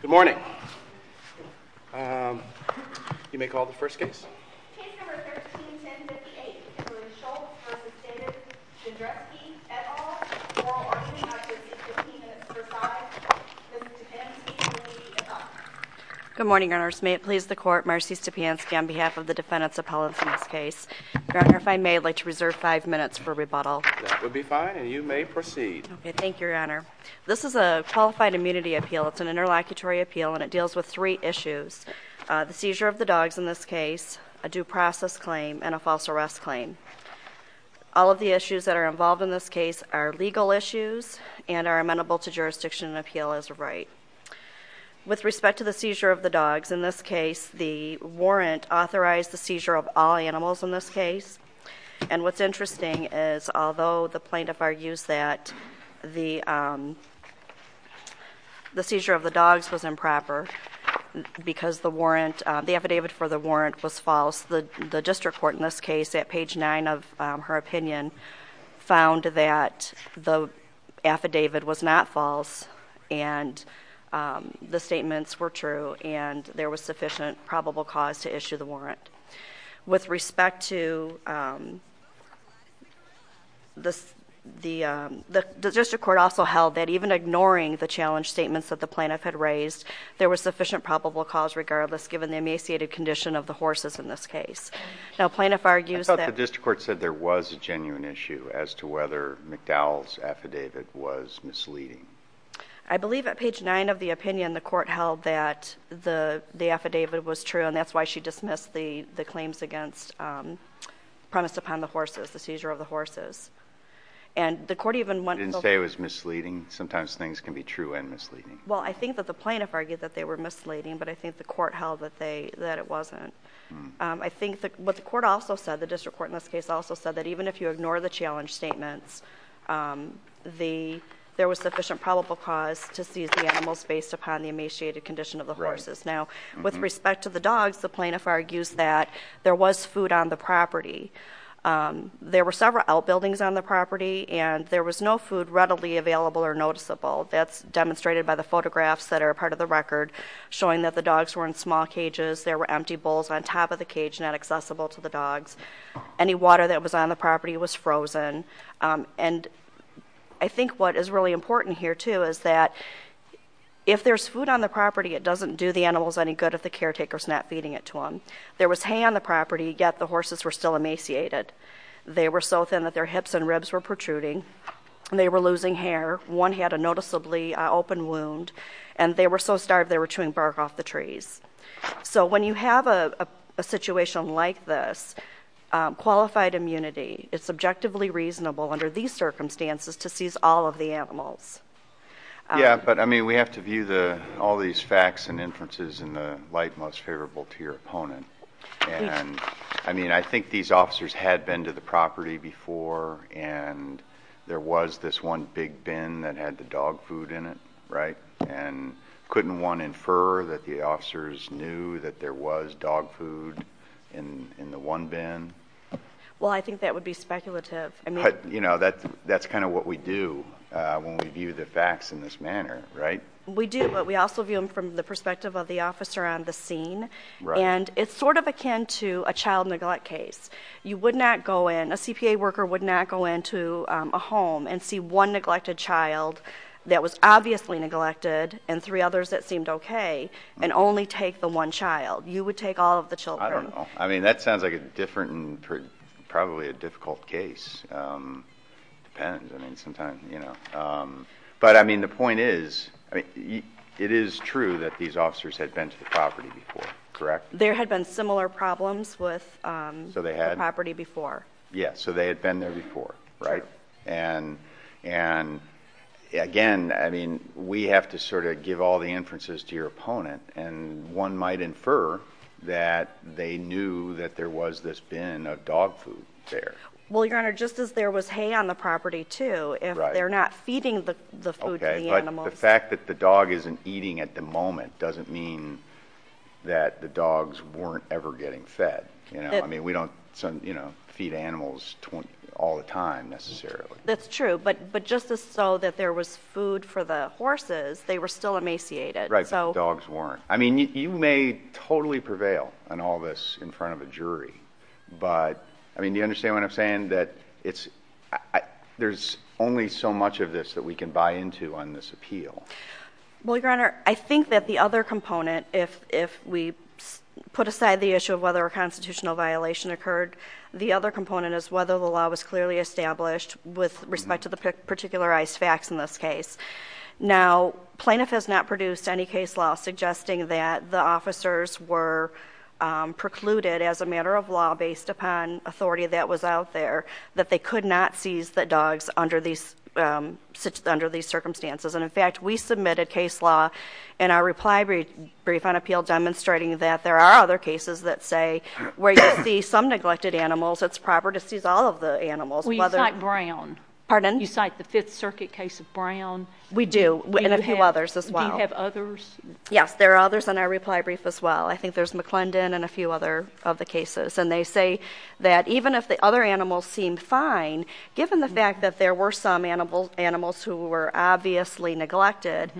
Good morning, may it please the court, Marcy Stepanski on behalf of the defendant's appellate from this case. Your Honor, if I may, I'd like to reserve five minutes for rebuttal. That would be fine, and you may proceed. Okay, thank you, Your Honor. This is a qualified immunity appeal, it's an interlocutory appeal, and it deals with three issues. The seizure of the dogs in this case, a due process claim, and a false arrest claim. All of the issues that are involved in this case are legal issues and are amenable to jurisdiction and appeal as a right. With respect to the seizure of the dogs, in this case, the warrant authorized the seizure of all animals in this case. And what's interesting is, although the plaintiff argues that the seizure of the dogs was improper, because the warrant, the affidavit for the warrant was false, the district court in this case at page nine of her opinion found that the affidavit was not false and the statements were true and there was sufficient probable cause to issue the warrant. With respect to the, the district court also held that even ignoring the challenge statements that the plaintiff had raised, there was sufficient probable cause regardless given the emaciated condition of the horses in this case. Now plaintiff argues that- I thought the district court said there was a genuine issue as to whether McDowell's affidavit was misleading. I believe at page nine of the opinion, the court held that the affidavit was true and that's why she dismissed the claims against premise upon the horses, the seizure of the horses. And the court even went- Didn't say it was misleading. Sometimes things can be true and misleading. Well, I think that the plaintiff argued that they were misleading, but I think the court held that they, that it wasn't. I think what the court also said, the district court in this case also said that even if you ignore the challenge statements, the, there was sufficient probable cause to seize the animals based upon the emaciated condition of the horses. Now with respect to the dogs, the plaintiff argues that there was food on the property. There were several outbuildings on the property and there was no food readily available or noticeable. That's demonstrated by the photographs that are a part of the record showing that the dogs were in small cages. Any water that was on the property was frozen. And I think what is really important here too is that if there's food on the property, it doesn't do the animals any good if the caretaker's not feeding it to them. There was hay on the property, yet the horses were still emaciated. They were so thin that their hips and ribs were protruding. They were losing hair. One had a noticeably open wound. And they were so starved they were chewing bark off the trees. So when you have a situation like this, qualified immunity, it's objectively reasonable under these circumstances to seize all of the animals. Yeah, but I mean, we have to view the, all these facts and inferences in the light most favorable to your opponent. And I mean, I think these officers had been to the property before and there was this one big bin that had the dog food in it, right? And couldn't one infer that the officers knew that there was dog food in the one bin? Well, I think that would be speculative. I mean... But, you know, that's kind of what we do when we view the facts in this manner, right? We do, but we also view them from the perspective of the officer on the scene. And it's sort of akin to a child neglect case. You would not go in, a CPA worker would not go into a home and see one neglected child that was obviously neglected and three others that seemed okay, and only take the one child. You would take all of the children. I don't know. I mean, that sounds like a different, probably a difficult case. Depends. I mean, sometimes, you know. But I mean, the point is, it is true that these officers had been to the property before, correct? There had been similar problems with the property before. Yeah, so they had been there before, right? Right. And again, I mean, we have to sort of give all the inferences to your opponent, and one might infer that they knew that there was this bin of dog food there. Well, Your Honor, just as there was hay on the property too, if they're not feeding the food to the animals... Okay, but the fact that the dog isn't eating at the moment doesn't mean that the dogs weren't ever getting fed. You know? They weren't getting fed all the time, necessarily. That's true. But just as so that there was food for the horses, they were still emaciated. Right. The dogs weren't. I mean, you may totally prevail on all this in front of a jury, but, I mean, do you understand what I'm saying? That it's, there's only so much of this that we can buy into on this appeal. Well, Your Honor, I think that the other component, if we put aside the issue of whether a constitutional violation occurred, the other component is whether the law was clearly established with respect to the particularized facts in this case. Now, Plaintiff has not produced any case law suggesting that the officers were precluded, as a matter of law, based upon authority that was out there, that they could not seize the dogs under these circumstances, and, in fact, we submitted case law in our reply brief on neglected animals. It's proper to seize all of the animals. Well, you cite Brown. Pardon? You cite the Fifth Circuit case of Brown. We do, and a few others as well. Do you have others? Yes, there are others in our reply brief as well. I think there's McClendon and a few other of the cases, and they say that even if the other animals seemed fine, given the fact that there were some animals who were obviously neglected,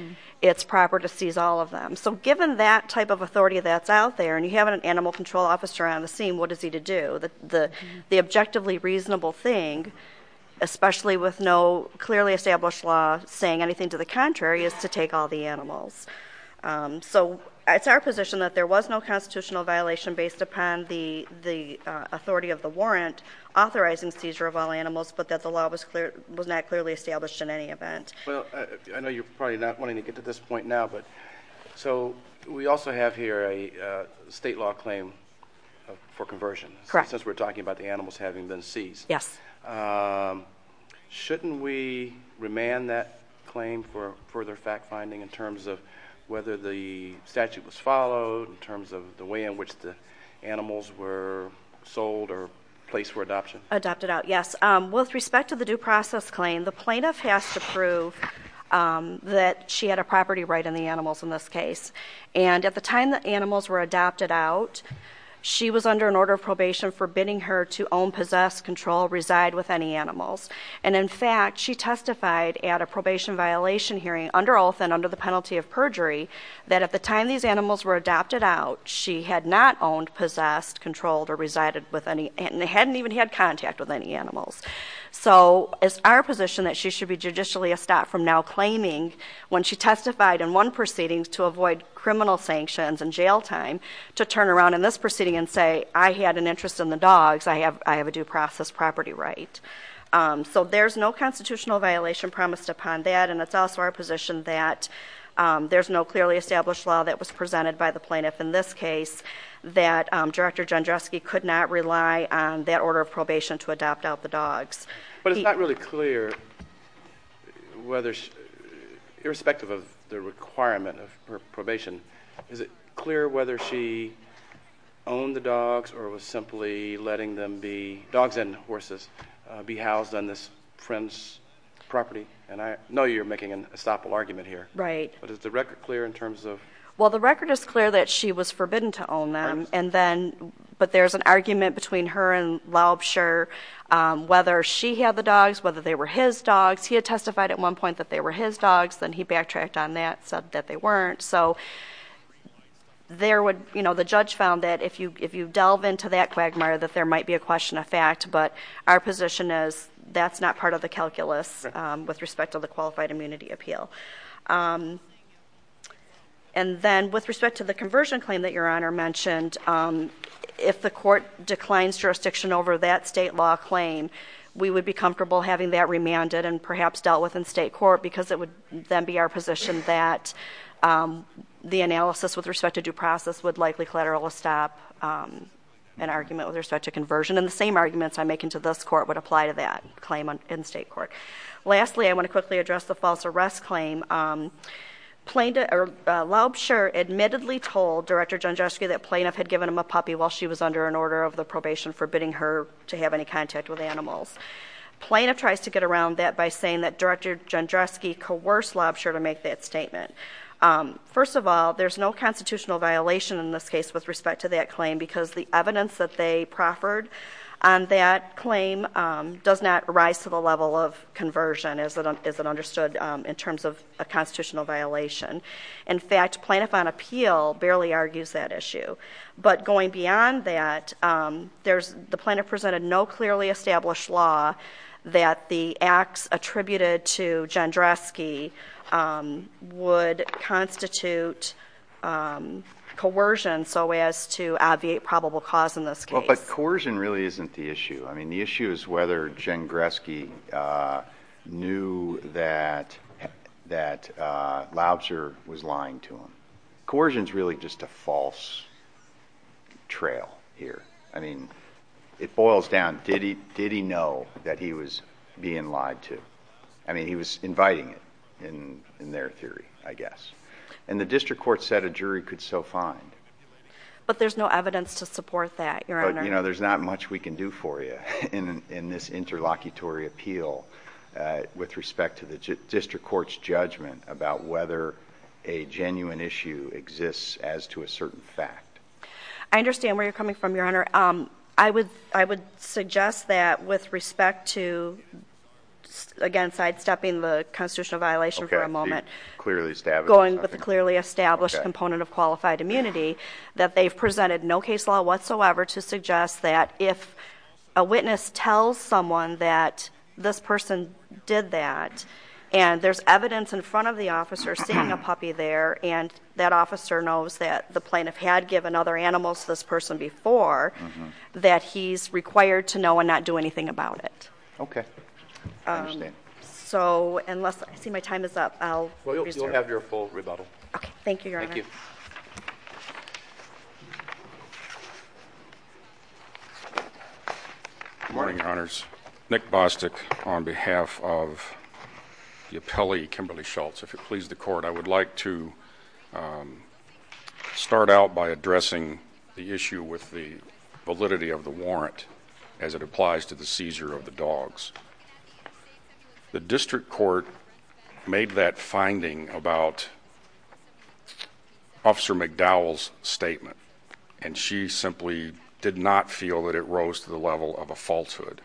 it's proper to seize all of them. So given that type of authority that's out there, and you have an animal control officer on the scene, what is he to do? The objectively reasonable thing, especially with no clearly established law saying anything to the contrary, is to take all the animals. So it's our position that there was no constitutional violation based upon the authority of the warrant authorizing seizure of all animals, but that the law was not clearly established in any event. Well, I know you're probably not wanting to get to this point now, but so we also have here a state law claim for conversion, since we're talking about the animals having been seized. Yes. Shouldn't we remand that claim for further fact-finding in terms of whether the statute was followed, in terms of the way in which the animals were sold or placed for adoption? Adopted out, yes. With respect to the due process claim, the plaintiff has to prove that she had a property right on the animals in this case. And at the time the animals were adopted out, she was under an order of probation forbidding her to own, possess, control, reside with any animals. And in fact, she testified at a probation violation hearing under oath and under the penalty of perjury, that at the time these animals were adopted out, she had not owned, possessed, controlled, or resided with any, and hadn't even had contact with any animals. So it's our position that she should be judicially estopped from now claiming, when she testified in one proceeding, to avoid criminal sanctions and jail time, to turn around in this proceeding and say, I had an interest in the dogs, I have a due process property right. So there's no constitutional violation promised upon that, and it's also our position that there's no clearly established law that was presented by the plaintiff in this case, that Director Jandruski could not rely on that order of probation to adopt out the dogs. But it's not really clear whether, irrespective of the requirement of her probation, is it clear whether she owned the dogs or was simply letting them be, dogs and horses, be housed on this friend's property? And I know you're making an estoppel argument here. Right. But is the record clear in terms of? Well, the record is clear that she was forbidden to own them, and then, but there's an argument between her and Laubscher, whether she had the dogs, whether they were his dogs. He had testified at one point that they were his dogs, then he backtracked on that, said that they weren't. So there would, you know, the judge found that if you, if you delve into that quagmire that there might be a question of fact, but our position is that's not part of the calculus with respect to the Qualified Immunity Appeal. And then, with respect to the conversion claim that Your Honor mentioned, if the court declines jurisdiction over that state law claim, we would be comfortable having that remanded and perhaps dealt with in state court, because it would then be our position that the analysis with respect to due process would likely collateral stop an argument with respect to conversion. And the same arguments I'm making to this court would apply to that claim in state court. Lastly, I want to quickly address the false arrest claim. Plaintiff, Laubscher admittedly told Director Janzewski that plaintiff had given him a puppy while she was under an order of the probation forbidding her to have any contact with animals. Plaintiff tries to get around that by saying that Director Janzewski coerced Laubscher to make that statement. First of all, there's no constitutional violation in this case with respect to that claim, because the evidence that they proffered on that claim does not rise to the level of conversion as it, as it understood in terms of a constitutional violation. In fact, plaintiff on appeal barely argues that issue. But going beyond that, there's, the plaintiff presented no clearly established law that the acts attributed to Janzewski would constitute coercion so as to obviate probable cause in this case. Well, but coercion really isn't the issue. I mean, the issue is whether Janzewski knew that, that Laubscher was lying to him. Coercion's really just a false trail here. I mean, it boils down, did he, did he know that he was being lied to? I mean, he was inviting it in, in their theory, I guess. And the district court said a jury could so find. But there's no evidence to support that, your honor. You know, there's not much we can do for you in, in this interlocutory appeal, uh, with respect to the district court's judgment about whether a genuine issue exists as to a certain fact. I understand where you're coming from, your honor. Um, I would, I would suggest that with respect to, again, sidestepping the constitutional violation for a moment, clearly established, clearly established component of qualified immunity that they've presented no case law whatsoever to suggest that if a witness tells someone that this person did that and there's evidence in front of the officer seeing a puppy there and that officer knows that the plaintiff had given other animals to this person before, that he's required to know and not do anything about it. Okay. Um, so unless I see my time is up, I'll have your full rebuttal. Okay. Thank you, your honor. Thank you. Good morning, your honors. Nick Bostic on behalf of the appellee, Kimberly Schultz, if you please the court, I would like to, um, start out by addressing the issue with the validity of the warrant as it applies to the seizure of the dogs. The district court made that finding about officer McDowell's statement and she simply did not feel that it rose to the level of a falsehood.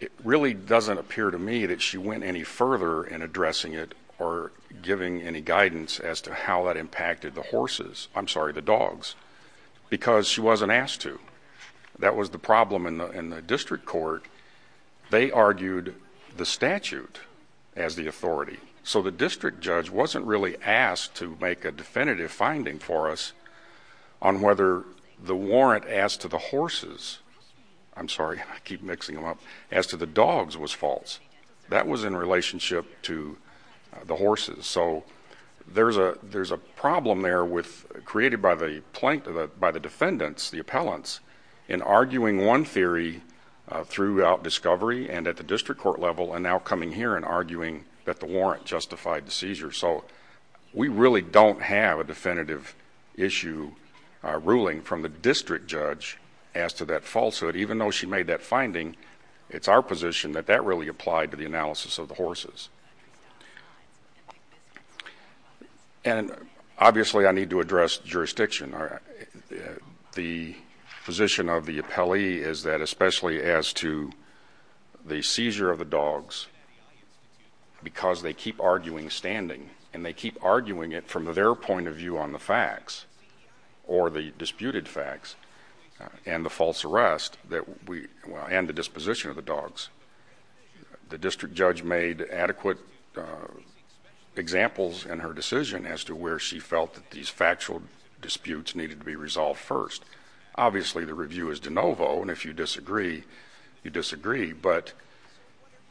It really doesn't appear to me that she went any further in addressing it or giving any guidance as to how that impacted the horses. I'm sorry, the dogs, because she wasn't asked to. That was the problem in the district court. They argued the statute as the authority. So the district judge wasn't really asked to make a definitive finding for us on whether the warrant as to the horses, I'm sorry, I keep mixing them up, as to the dogs was false. That was in relationship to the horses. So there's a problem there created by the defendants, the appellants, in arguing one theory throughout discovery and at the district court level and now coming here and arguing that the warrant justified the seizure. So we really don't have a definitive issue ruling from the district judge as to that falsehood even though she made that finding. It's our position that that really applied to the analysis of the horses. And obviously I need to address jurisdiction. The position of the appellee is that especially as to the seizure of the dogs because they keep arguing standing and they keep arguing it from their point of view on the facts or the disputed facts and the false arrest and the disposition of the dogs, the district judge made adequate examples in her decision as to where she felt that these factual disputes needed to be resolved first. Obviously the review is de novo and if you disagree, you disagree. But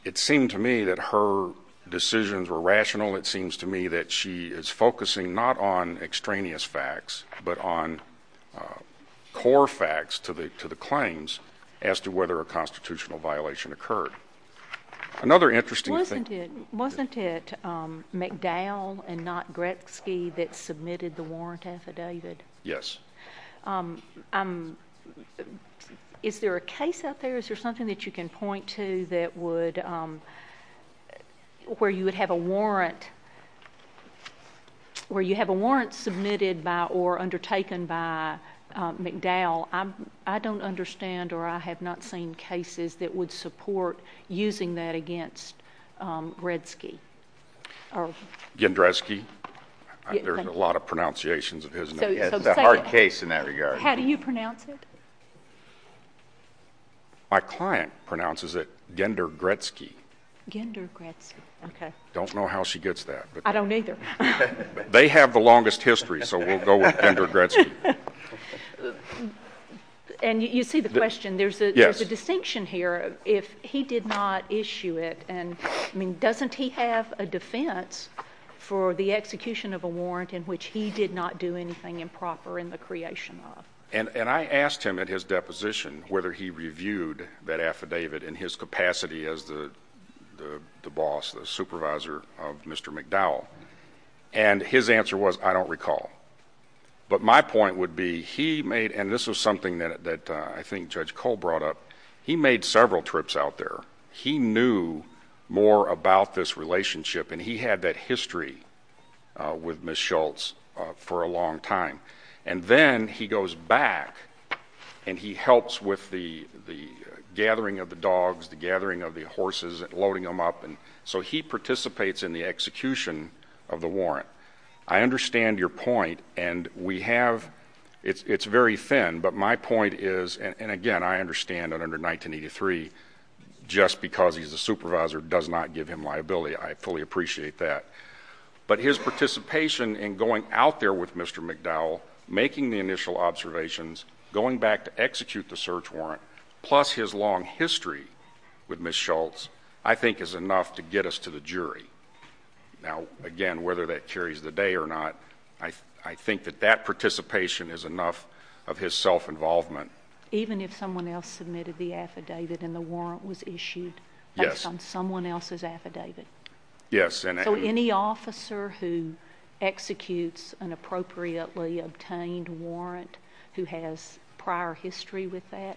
it seemed to me that her decisions were rational. It seems to me that she is focusing not on extraneous facts but on core facts to the claims as to whether a constitutional violation occurred. Another interesting thing. Wasn't it McDowell and not Gretzky that submitted the warrant affidavit? Yes. Is there a case out there, is there something that you can point to that would, where you would have a warrant, where you have a warrant submitted by or undertaken by McDowell? I don't understand or I have not seen cases that would support using that against Gretzky. Gendrezky. There are a lot of pronunciations of his name. It's a hard case in that regard. How do you pronounce it? My client pronounces it Gender Gretzky. Gender Gretzky. Okay. I don't know how she gets that. I don't either. They have the longest history so we'll go with Gender Gretzky. And you see the question. Yes. There's a distinction here. If he did not issue it and, I mean, doesn't he have a defense for the execution of a warrant in which he did not do anything improper in the creation of? And I asked him at his deposition whether he reviewed that affidavit in his capacity as the boss, the supervisor of Mr. McDowell. And his answer was, I don't recall. But my point would be he made, and this was something that I think Judge Cole brought up, he made several trips out there. He knew more about this relationship and he had that history with Ms. Schultz for a long time. And then he goes back and he helps with the gathering of the dogs, the gathering of the horses, loading them up. So he participates in the execution of the warrant. I understand your point and we have, it's very thin, but my point is, and again, I understand under 1983, just because he's the supervisor does not give him liability. I fully appreciate that. But his participation in going out there with Mr. McDowell, making the initial observations, going back to execute the search warrant, plus his long history with Ms. Schultz, I think is enough to get us to the jury. Now, again, whether that carries the day or not, I think that that participation is enough of his self-involvement. Even if someone else submitted the affidavit and the warrant was issued based on someone else's affidavit? Yes. So any officer who executes an appropriately obtained warrant who has prior history with that?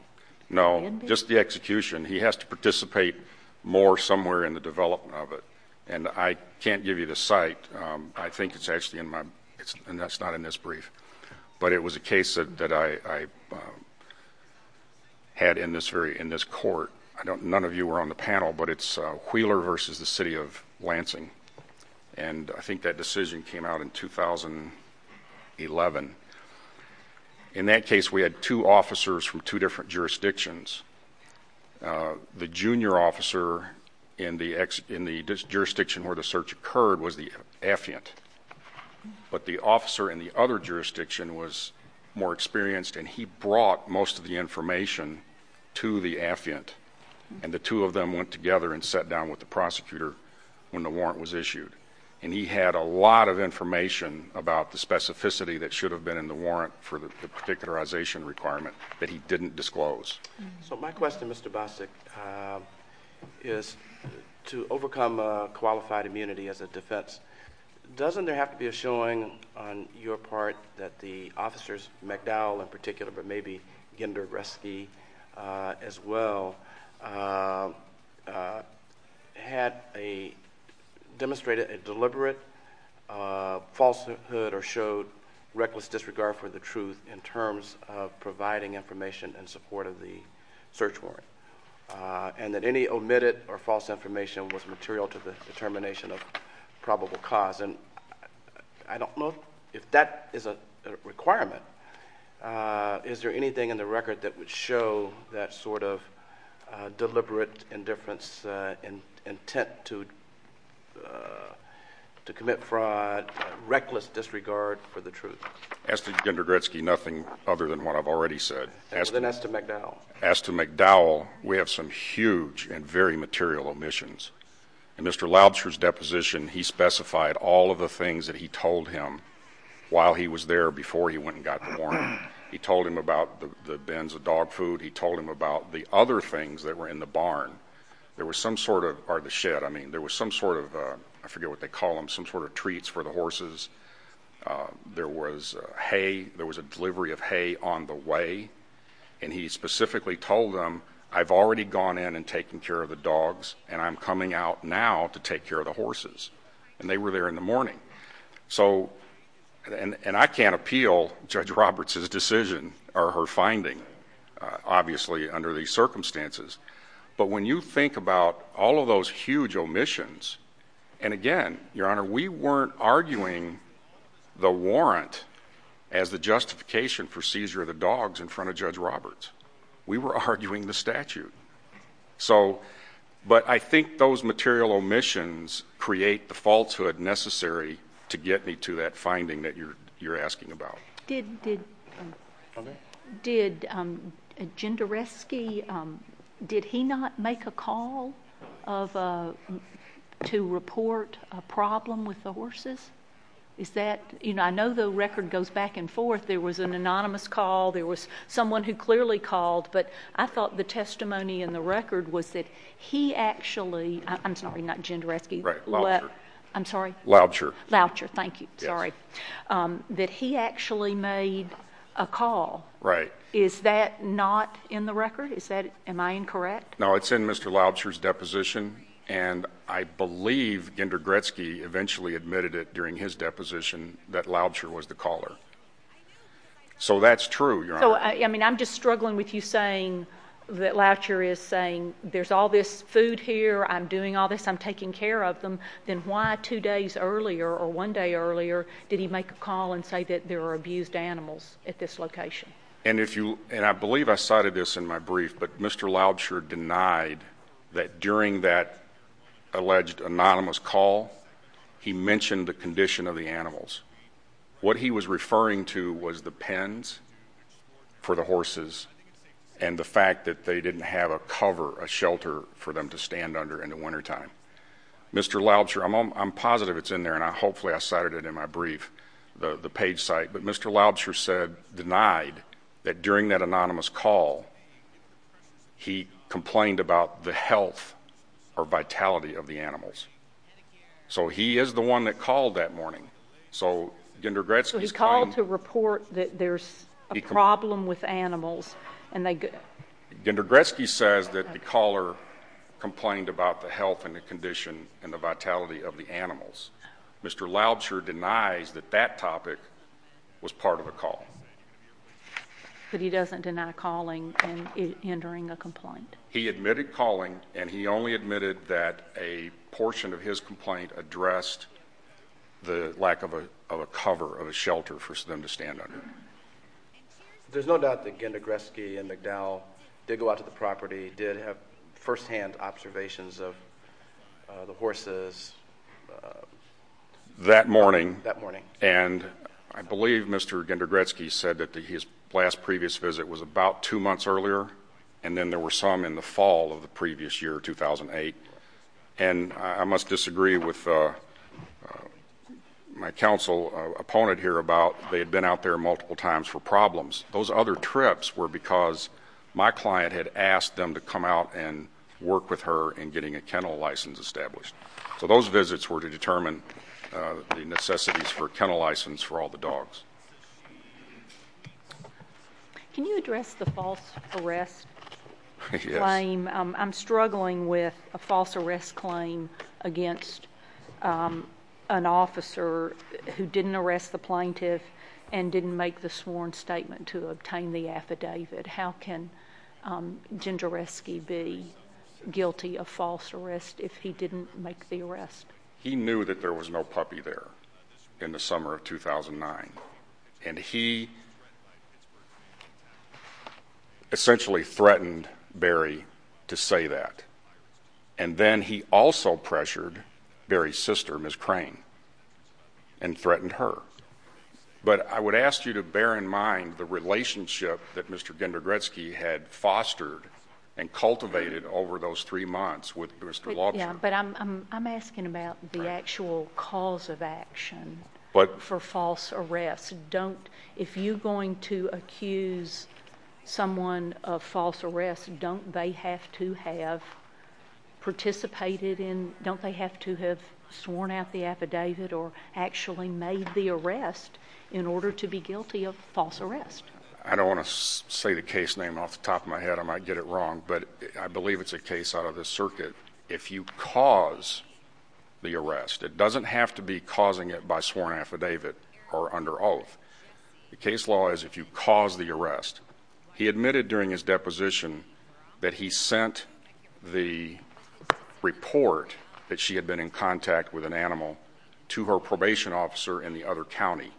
No. Just the execution. He has to participate more somewhere in the development of it. And I can't give you the site. I think it's actually in my, and that's not in this brief. But it was a case that I had in this very, in this court, none of you were on the panel, but it's Wheeler versus the City of Lansing. And I think that decision came out in 2011. In that case, we had two officers from two different jurisdictions. The junior officer in the jurisdiction where the search occurred was the affiant. But the officer in the other jurisdiction was more experienced, and he brought most of the information to the affiant. And the two of them went together and sat down with the prosecutor when the warrant was issued. And he had a lot of information about the specificity that should have been in the warrant for the particularization requirement that he didn't disclose. So my question, Mr. Bostic, is to overcome qualified immunity as a defense, doesn't there have to be a showing on your part that the officers, McDowell in particular, but maybe Gender Rescue as well, had a, demonstrated a deliberate falsehood or showed reckless disregard for the truth in terms of providing information in support of the search warrant? And that any omitted or false information was material to the determination of probable cause? And I don't know if that is a requirement. Is there anything in the record that would show that sort of deliberate indifference intent to commit fraud, reckless disregard for the truth? As to Gender Gretzky, nothing other than what I've already said. And as to McDowell? As to McDowell, we have some huge and very material omissions. In Mr. Lobster's deposition, he specified all of the things that he told him while he was there before he went and got the warrant. He told him about the bins of dog food. He told him about the other things that were in the barn. There was some sort of, or the shed, I mean, there was some sort of, I forget what they call them, some sort of treats for the horses. There was hay, there was a delivery of hay on the way. And he specifically told them, I've already gone in and taken care of the dogs and I'm coming out now to take care of the horses. And they were there in the morning. And I can't appeal Judge Roberts' decision, or her finding, obviously, under these circumstances. But when you think about all of those huge omissions, and again, Your Honor, we weren't arguing the warrant as the justification for seizure of the dogs in front of Judge Roberts. We were arguing the statute. So, but I think those material omissions create the falsehood necessary to get me to that finding that you're asking about. Did, did, did Jinderesky, did he not make a call to report a problem with the horses? Is that, you know, I know the record goes back and forth. There was an anonymous call, there was someone who clearly called, but I thought the testimony in the record was that he actually, I'm sorry, not Jinderesky, what, I'm sorry? Laubscher. Thank you. Sorry. That he actually made a call. Right. Is that not in the record? Is that, am I incorrect? No, it's in Mr. Laubscher's deposition, and I believe Ginder Gretzky eventually admitted it during his deposition that Laubscher was the caller. So that's true, Your Honor. So, I mean, I'm just struggling with you saying that Laubscher is saying there's all this food here, I'm doing all this, I'm taking care of them, then why two days earlier or one day earlier did he make a call and say that there were abused animals at this location? And if you, and I believe I cited this in my brief, but Mr. Laubscher denied that during that alleged anonymous call, he mentioned the condition of the animals. What he was referring to was the pens for the horses and the fact that they didn't have a cover, a shelter for them to stand under in the wintertime. Mr. Laubscher, I'm positive it's in there, and hopefully I cited it in my brief, the page site, but Mr. Laubscher said, denied, that during that anonymous call, he complained about the health or vitality of the animals. So he is the one that called that morning. So, Ginder Gretzky's claim- So he called to report that there's a problem with animals, and they- Ginder Gretzky says that the caller complained about the health and the condition and the vitality of the animals. Mr. Laubscher denies that that topic was part of the call. But he doesn't deny calling and hindering a complaint. He admitted calling, and he only admitted that a portion of his complaint addressed the lack of a cover, of a shelter for them to stand under. There's no doubt that Ginder Gretzky and McDowell did go out to the property, did have first-hand observations of the horses. That morning. That morning. And I believe Mr. Ginder Gretzky said that his last previous visit was about two months earlier, and then there were some in the fall of the previous year, 2008. And I must disagree with my counsel opponent here about they had been out there multiple times for problems. Those other trips were because my client had asked them to come out and work with her in getting a kennel license established. So those visits were to determine the necessities for a kennel license for all the dogs. Can you address the false arrest claim? I'm struggling with a false arrest claim against an officer who didn't arrest the plaintiff and didn't make the sworn statement to obtain the affidavit. How can Ginder Gretzky be guilty of false arrest if he didn't make the arrest? He knew that there was no puppy there in the summer of 2009. And he essentially threatened Barry to say that. And then he also pressured Barry's sister, Ms. Crane, and threatened her. But I would ask you to bear in mind the relationship that Mr. Ginder Gretzky had fostered and cultivated over those three months with Mr. Laubscher. Yeah, but I'm asking about the actual cause of action for false arrest. If you're going to accuse someone of false arrest, don't they have to have participated in, don't they have to have sworn out the affidavit or actually made the arrest in order to be guilty of false arrest? I don't want to say the case name off the top of my head. I might get it wrong. But I believe it's a case out of the circuit. If you cause the arrest, it doesn't have to be causing it by sworn affidavit or under oath. The case law is if you cause the arrest. He admitted during his deposition that he sent the report that she had been in contact with an animal to her probation officer in the other county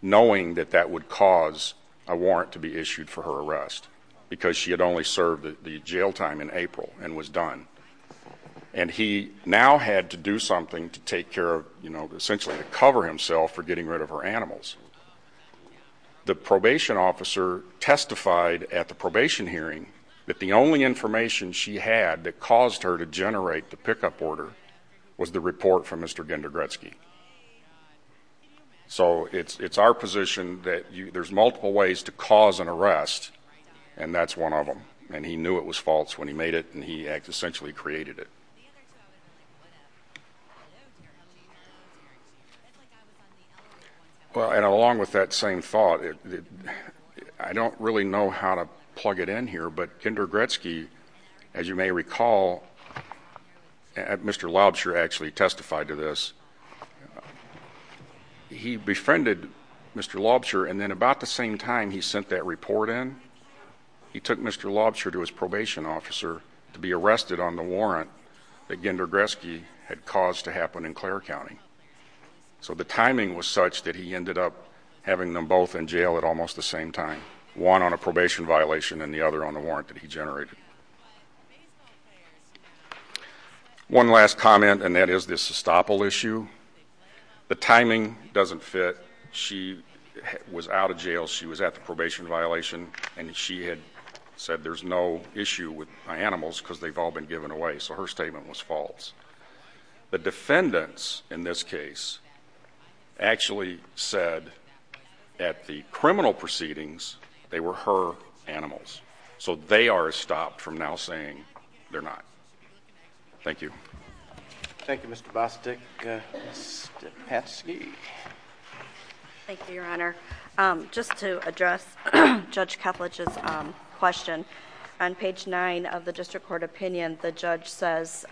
knowing that that would cause a warrant to be issued for her arrest because she had only served the jail time in April and was done. And he now had to do something to take care of, you know, essentially to cover himself for getting rid of her animals. The probation officer testified at the probation hearing that the only information she had that caused her to generate the pickup order was the report from Mr. Gendogretzky. So it's our position that there's multiple ways to cause an arrest. And that's one of them. And he knew it was false when he made it. And he essentially created it. Well, and along with that same thought, I don't really know how to plug it in here. But Gendogretzky, as you may recall, Mr. Lobsher actually testified to this. He befriended Mr. Lobsher and then about the same time he sent that report in, he took Mr. Lobsher to his probation officer to be arrested on the warrant that Gendogretzky had caused to happen in Clare County. So the timing was such that he ended up having them both in jail at almost the same time, one on a probation violation and the other on the warrant that he generated. One last comment, and that is this estoppel issue. She was out of jail. She was at the probation violation. And she had said there's no issue with my animals because they've all been given away. So her statement was false. The defendants in this case actually said at the criminal proceedings they were her animals. So they are stopped from now saying they're not. Thank you. Thank you, Mr. Bostic. Ms. Stepatsky. Thank you, Your Honor. Just to address Judge Ketledge's question, on page nine of the district court opinion, the judge says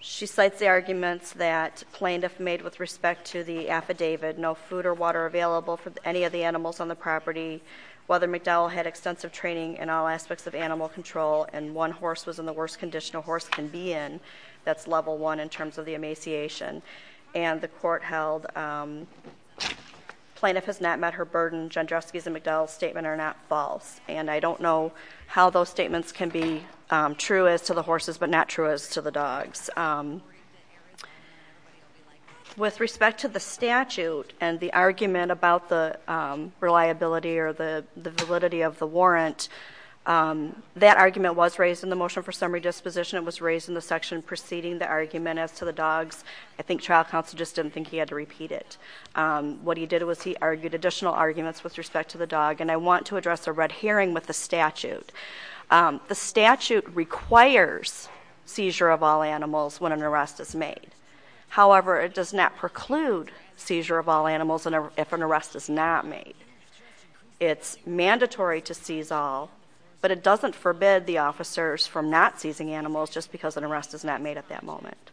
she cites the arguments that plaintiff made with respect to the affidavit, no food or water available for any of the animals on the property, whether McDowell had extensive training in all aspects of animal control, and one horse was in the worst condition a horse can be in. That's level one in terms of the emaciation. And the court held plaintiff has not met her burden. Jandrowski's and McDowell's statement are not false. And I don't know how those statements can be true as to the horses, but not true as to the dogs. With respect to the statute and the argument about the reliability or the validity of the warrant, that argument was raised in the motion for summary disposition. It was raised in the section preceding the argument as to the dogs. I think trial counsel just didn't think he had to repeat it. What he did was he argued additional arguments with respect to the dog. And I want to address a red herring with the statute. The statute requires seizure of all animals when an arrest is made. However, it does not preclude seizure of all animals if an arrest is not made. It's mandatory to seize all, but it doesn't forbid the officers from not seizing animals just because an arrest is not made at that moment.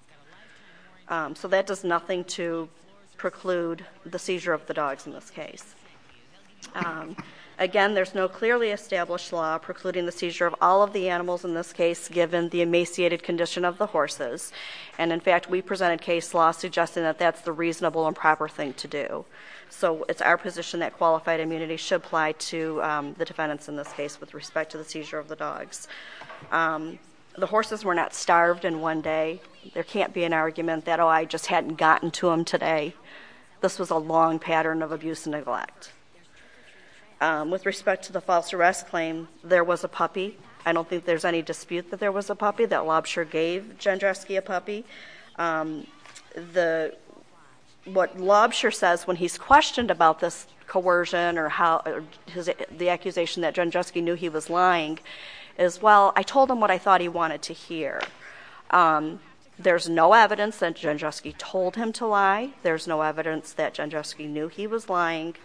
So that does nothing to preclude the seizure of the dogs in this case. Again, there's no clearly established law precluding the seizure of all of the animals in this case given the emaciated condition of the horses. And in fact, we presented case law suggesting that that's the reasonable and proper thing to do. So it's our position that qualified immunity should apply to the defendants in this case with respect to the seizure of the dogs. The horses were not starved in one day. There can't be an argument that, I just hadn't gotten to him today. This was a long pattern of abuse and neglect. With respect to the false arrest claim, there was a puppy. I don't think there's any dispute that there was a puppy, that Lobsher gave Jandruski a puppy. What Lobsher says when he's questioned about this coercion or the accusation that Jandruski knew he was lying is, well, I told him what I thought he wanted to hear. There's no evidence that Jandruski told him to lie. There's no evidence that Jandruski knew he was lying.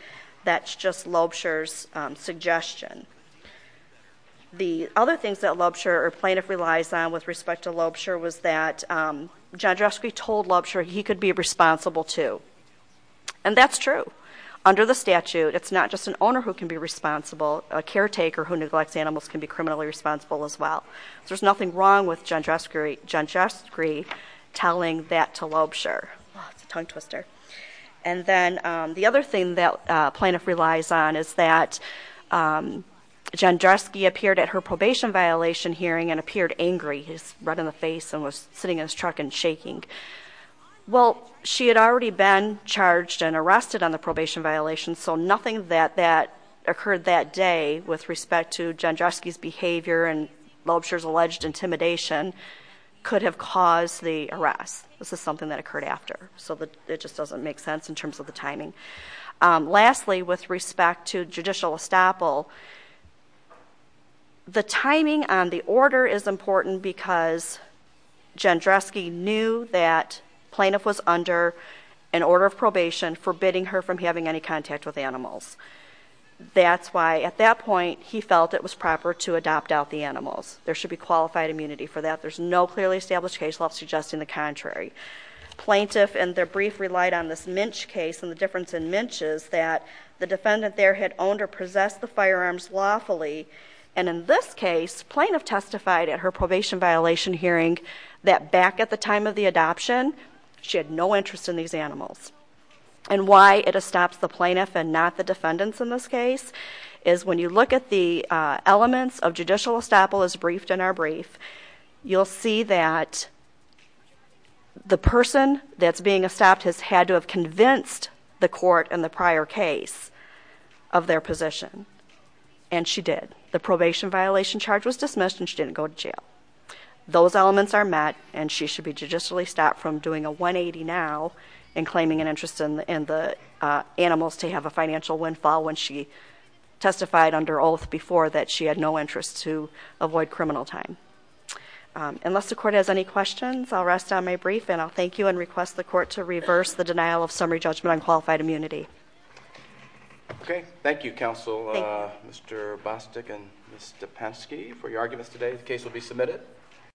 That's just Lobsher's suggestion. The other things that Lobsher or plaintiff relies on with respect to Lobsher was that Jandruski told Lobsher he could be responsible too. And that's true. Under the statute, it's not just an owner who can be responsible, a caretaker who neglects animals can be criminally responsible as well. So there's nothing wrong with Jandruski telling that to Lobsher. It's a tongue twister. And then the other thing that plaintiff relies on is that Jandruski appeared at her probation violation hearing and appeared angry. He was red in the face and was sitting in his truck and shaking. Well, she had already been charged and arrested on the probation violation, so nothing that occurred that day with respect to Jandruski's behavior and Lobsher's alleged intimidation could have caused the arrest. This is something that occurred after, so it just doesn't make sense in terms of the timing. Lastly, with respect to judicial estoppel, the timing on the order is important because Jandruski knew that That's why, at that point, he felt it was proper to adopt out the animals. There should be qualified immunity for that. There's no clearly established case left suggesting the contrary. Plaintiff, in their brief, relied on this Minch case and the difference in Minch is that the defendant there had owned or possessed the firearms lawfully. And in this case, plaintiff testified at her probation violation hearing that back at the time of the adoption, she had no interest in these animals. And why it estops the plaintiff and not the defendants in this case, is when you look at the elements of judicial estoppel as briefed in our brief, you'll see that the person that's being estopped has had to have convinced the court in the prior case of their position, and she did. The probation violation charge was dismissed and she didn't go to jail. Those elements are met and she should be judicially stopped from doing a 180 now and claiming an interest in the animals to have a financial windfall when she testified under oath before that she had no interest to avoid criminal time. Unless the court has any questions, I'll rest on my brief and I'll thank you and request the court to reverse the denial of summary judgment on qualified immunity. Okay, thank you, Counsel. Mr. Bostick and Ms. Stepensky for your arguments today.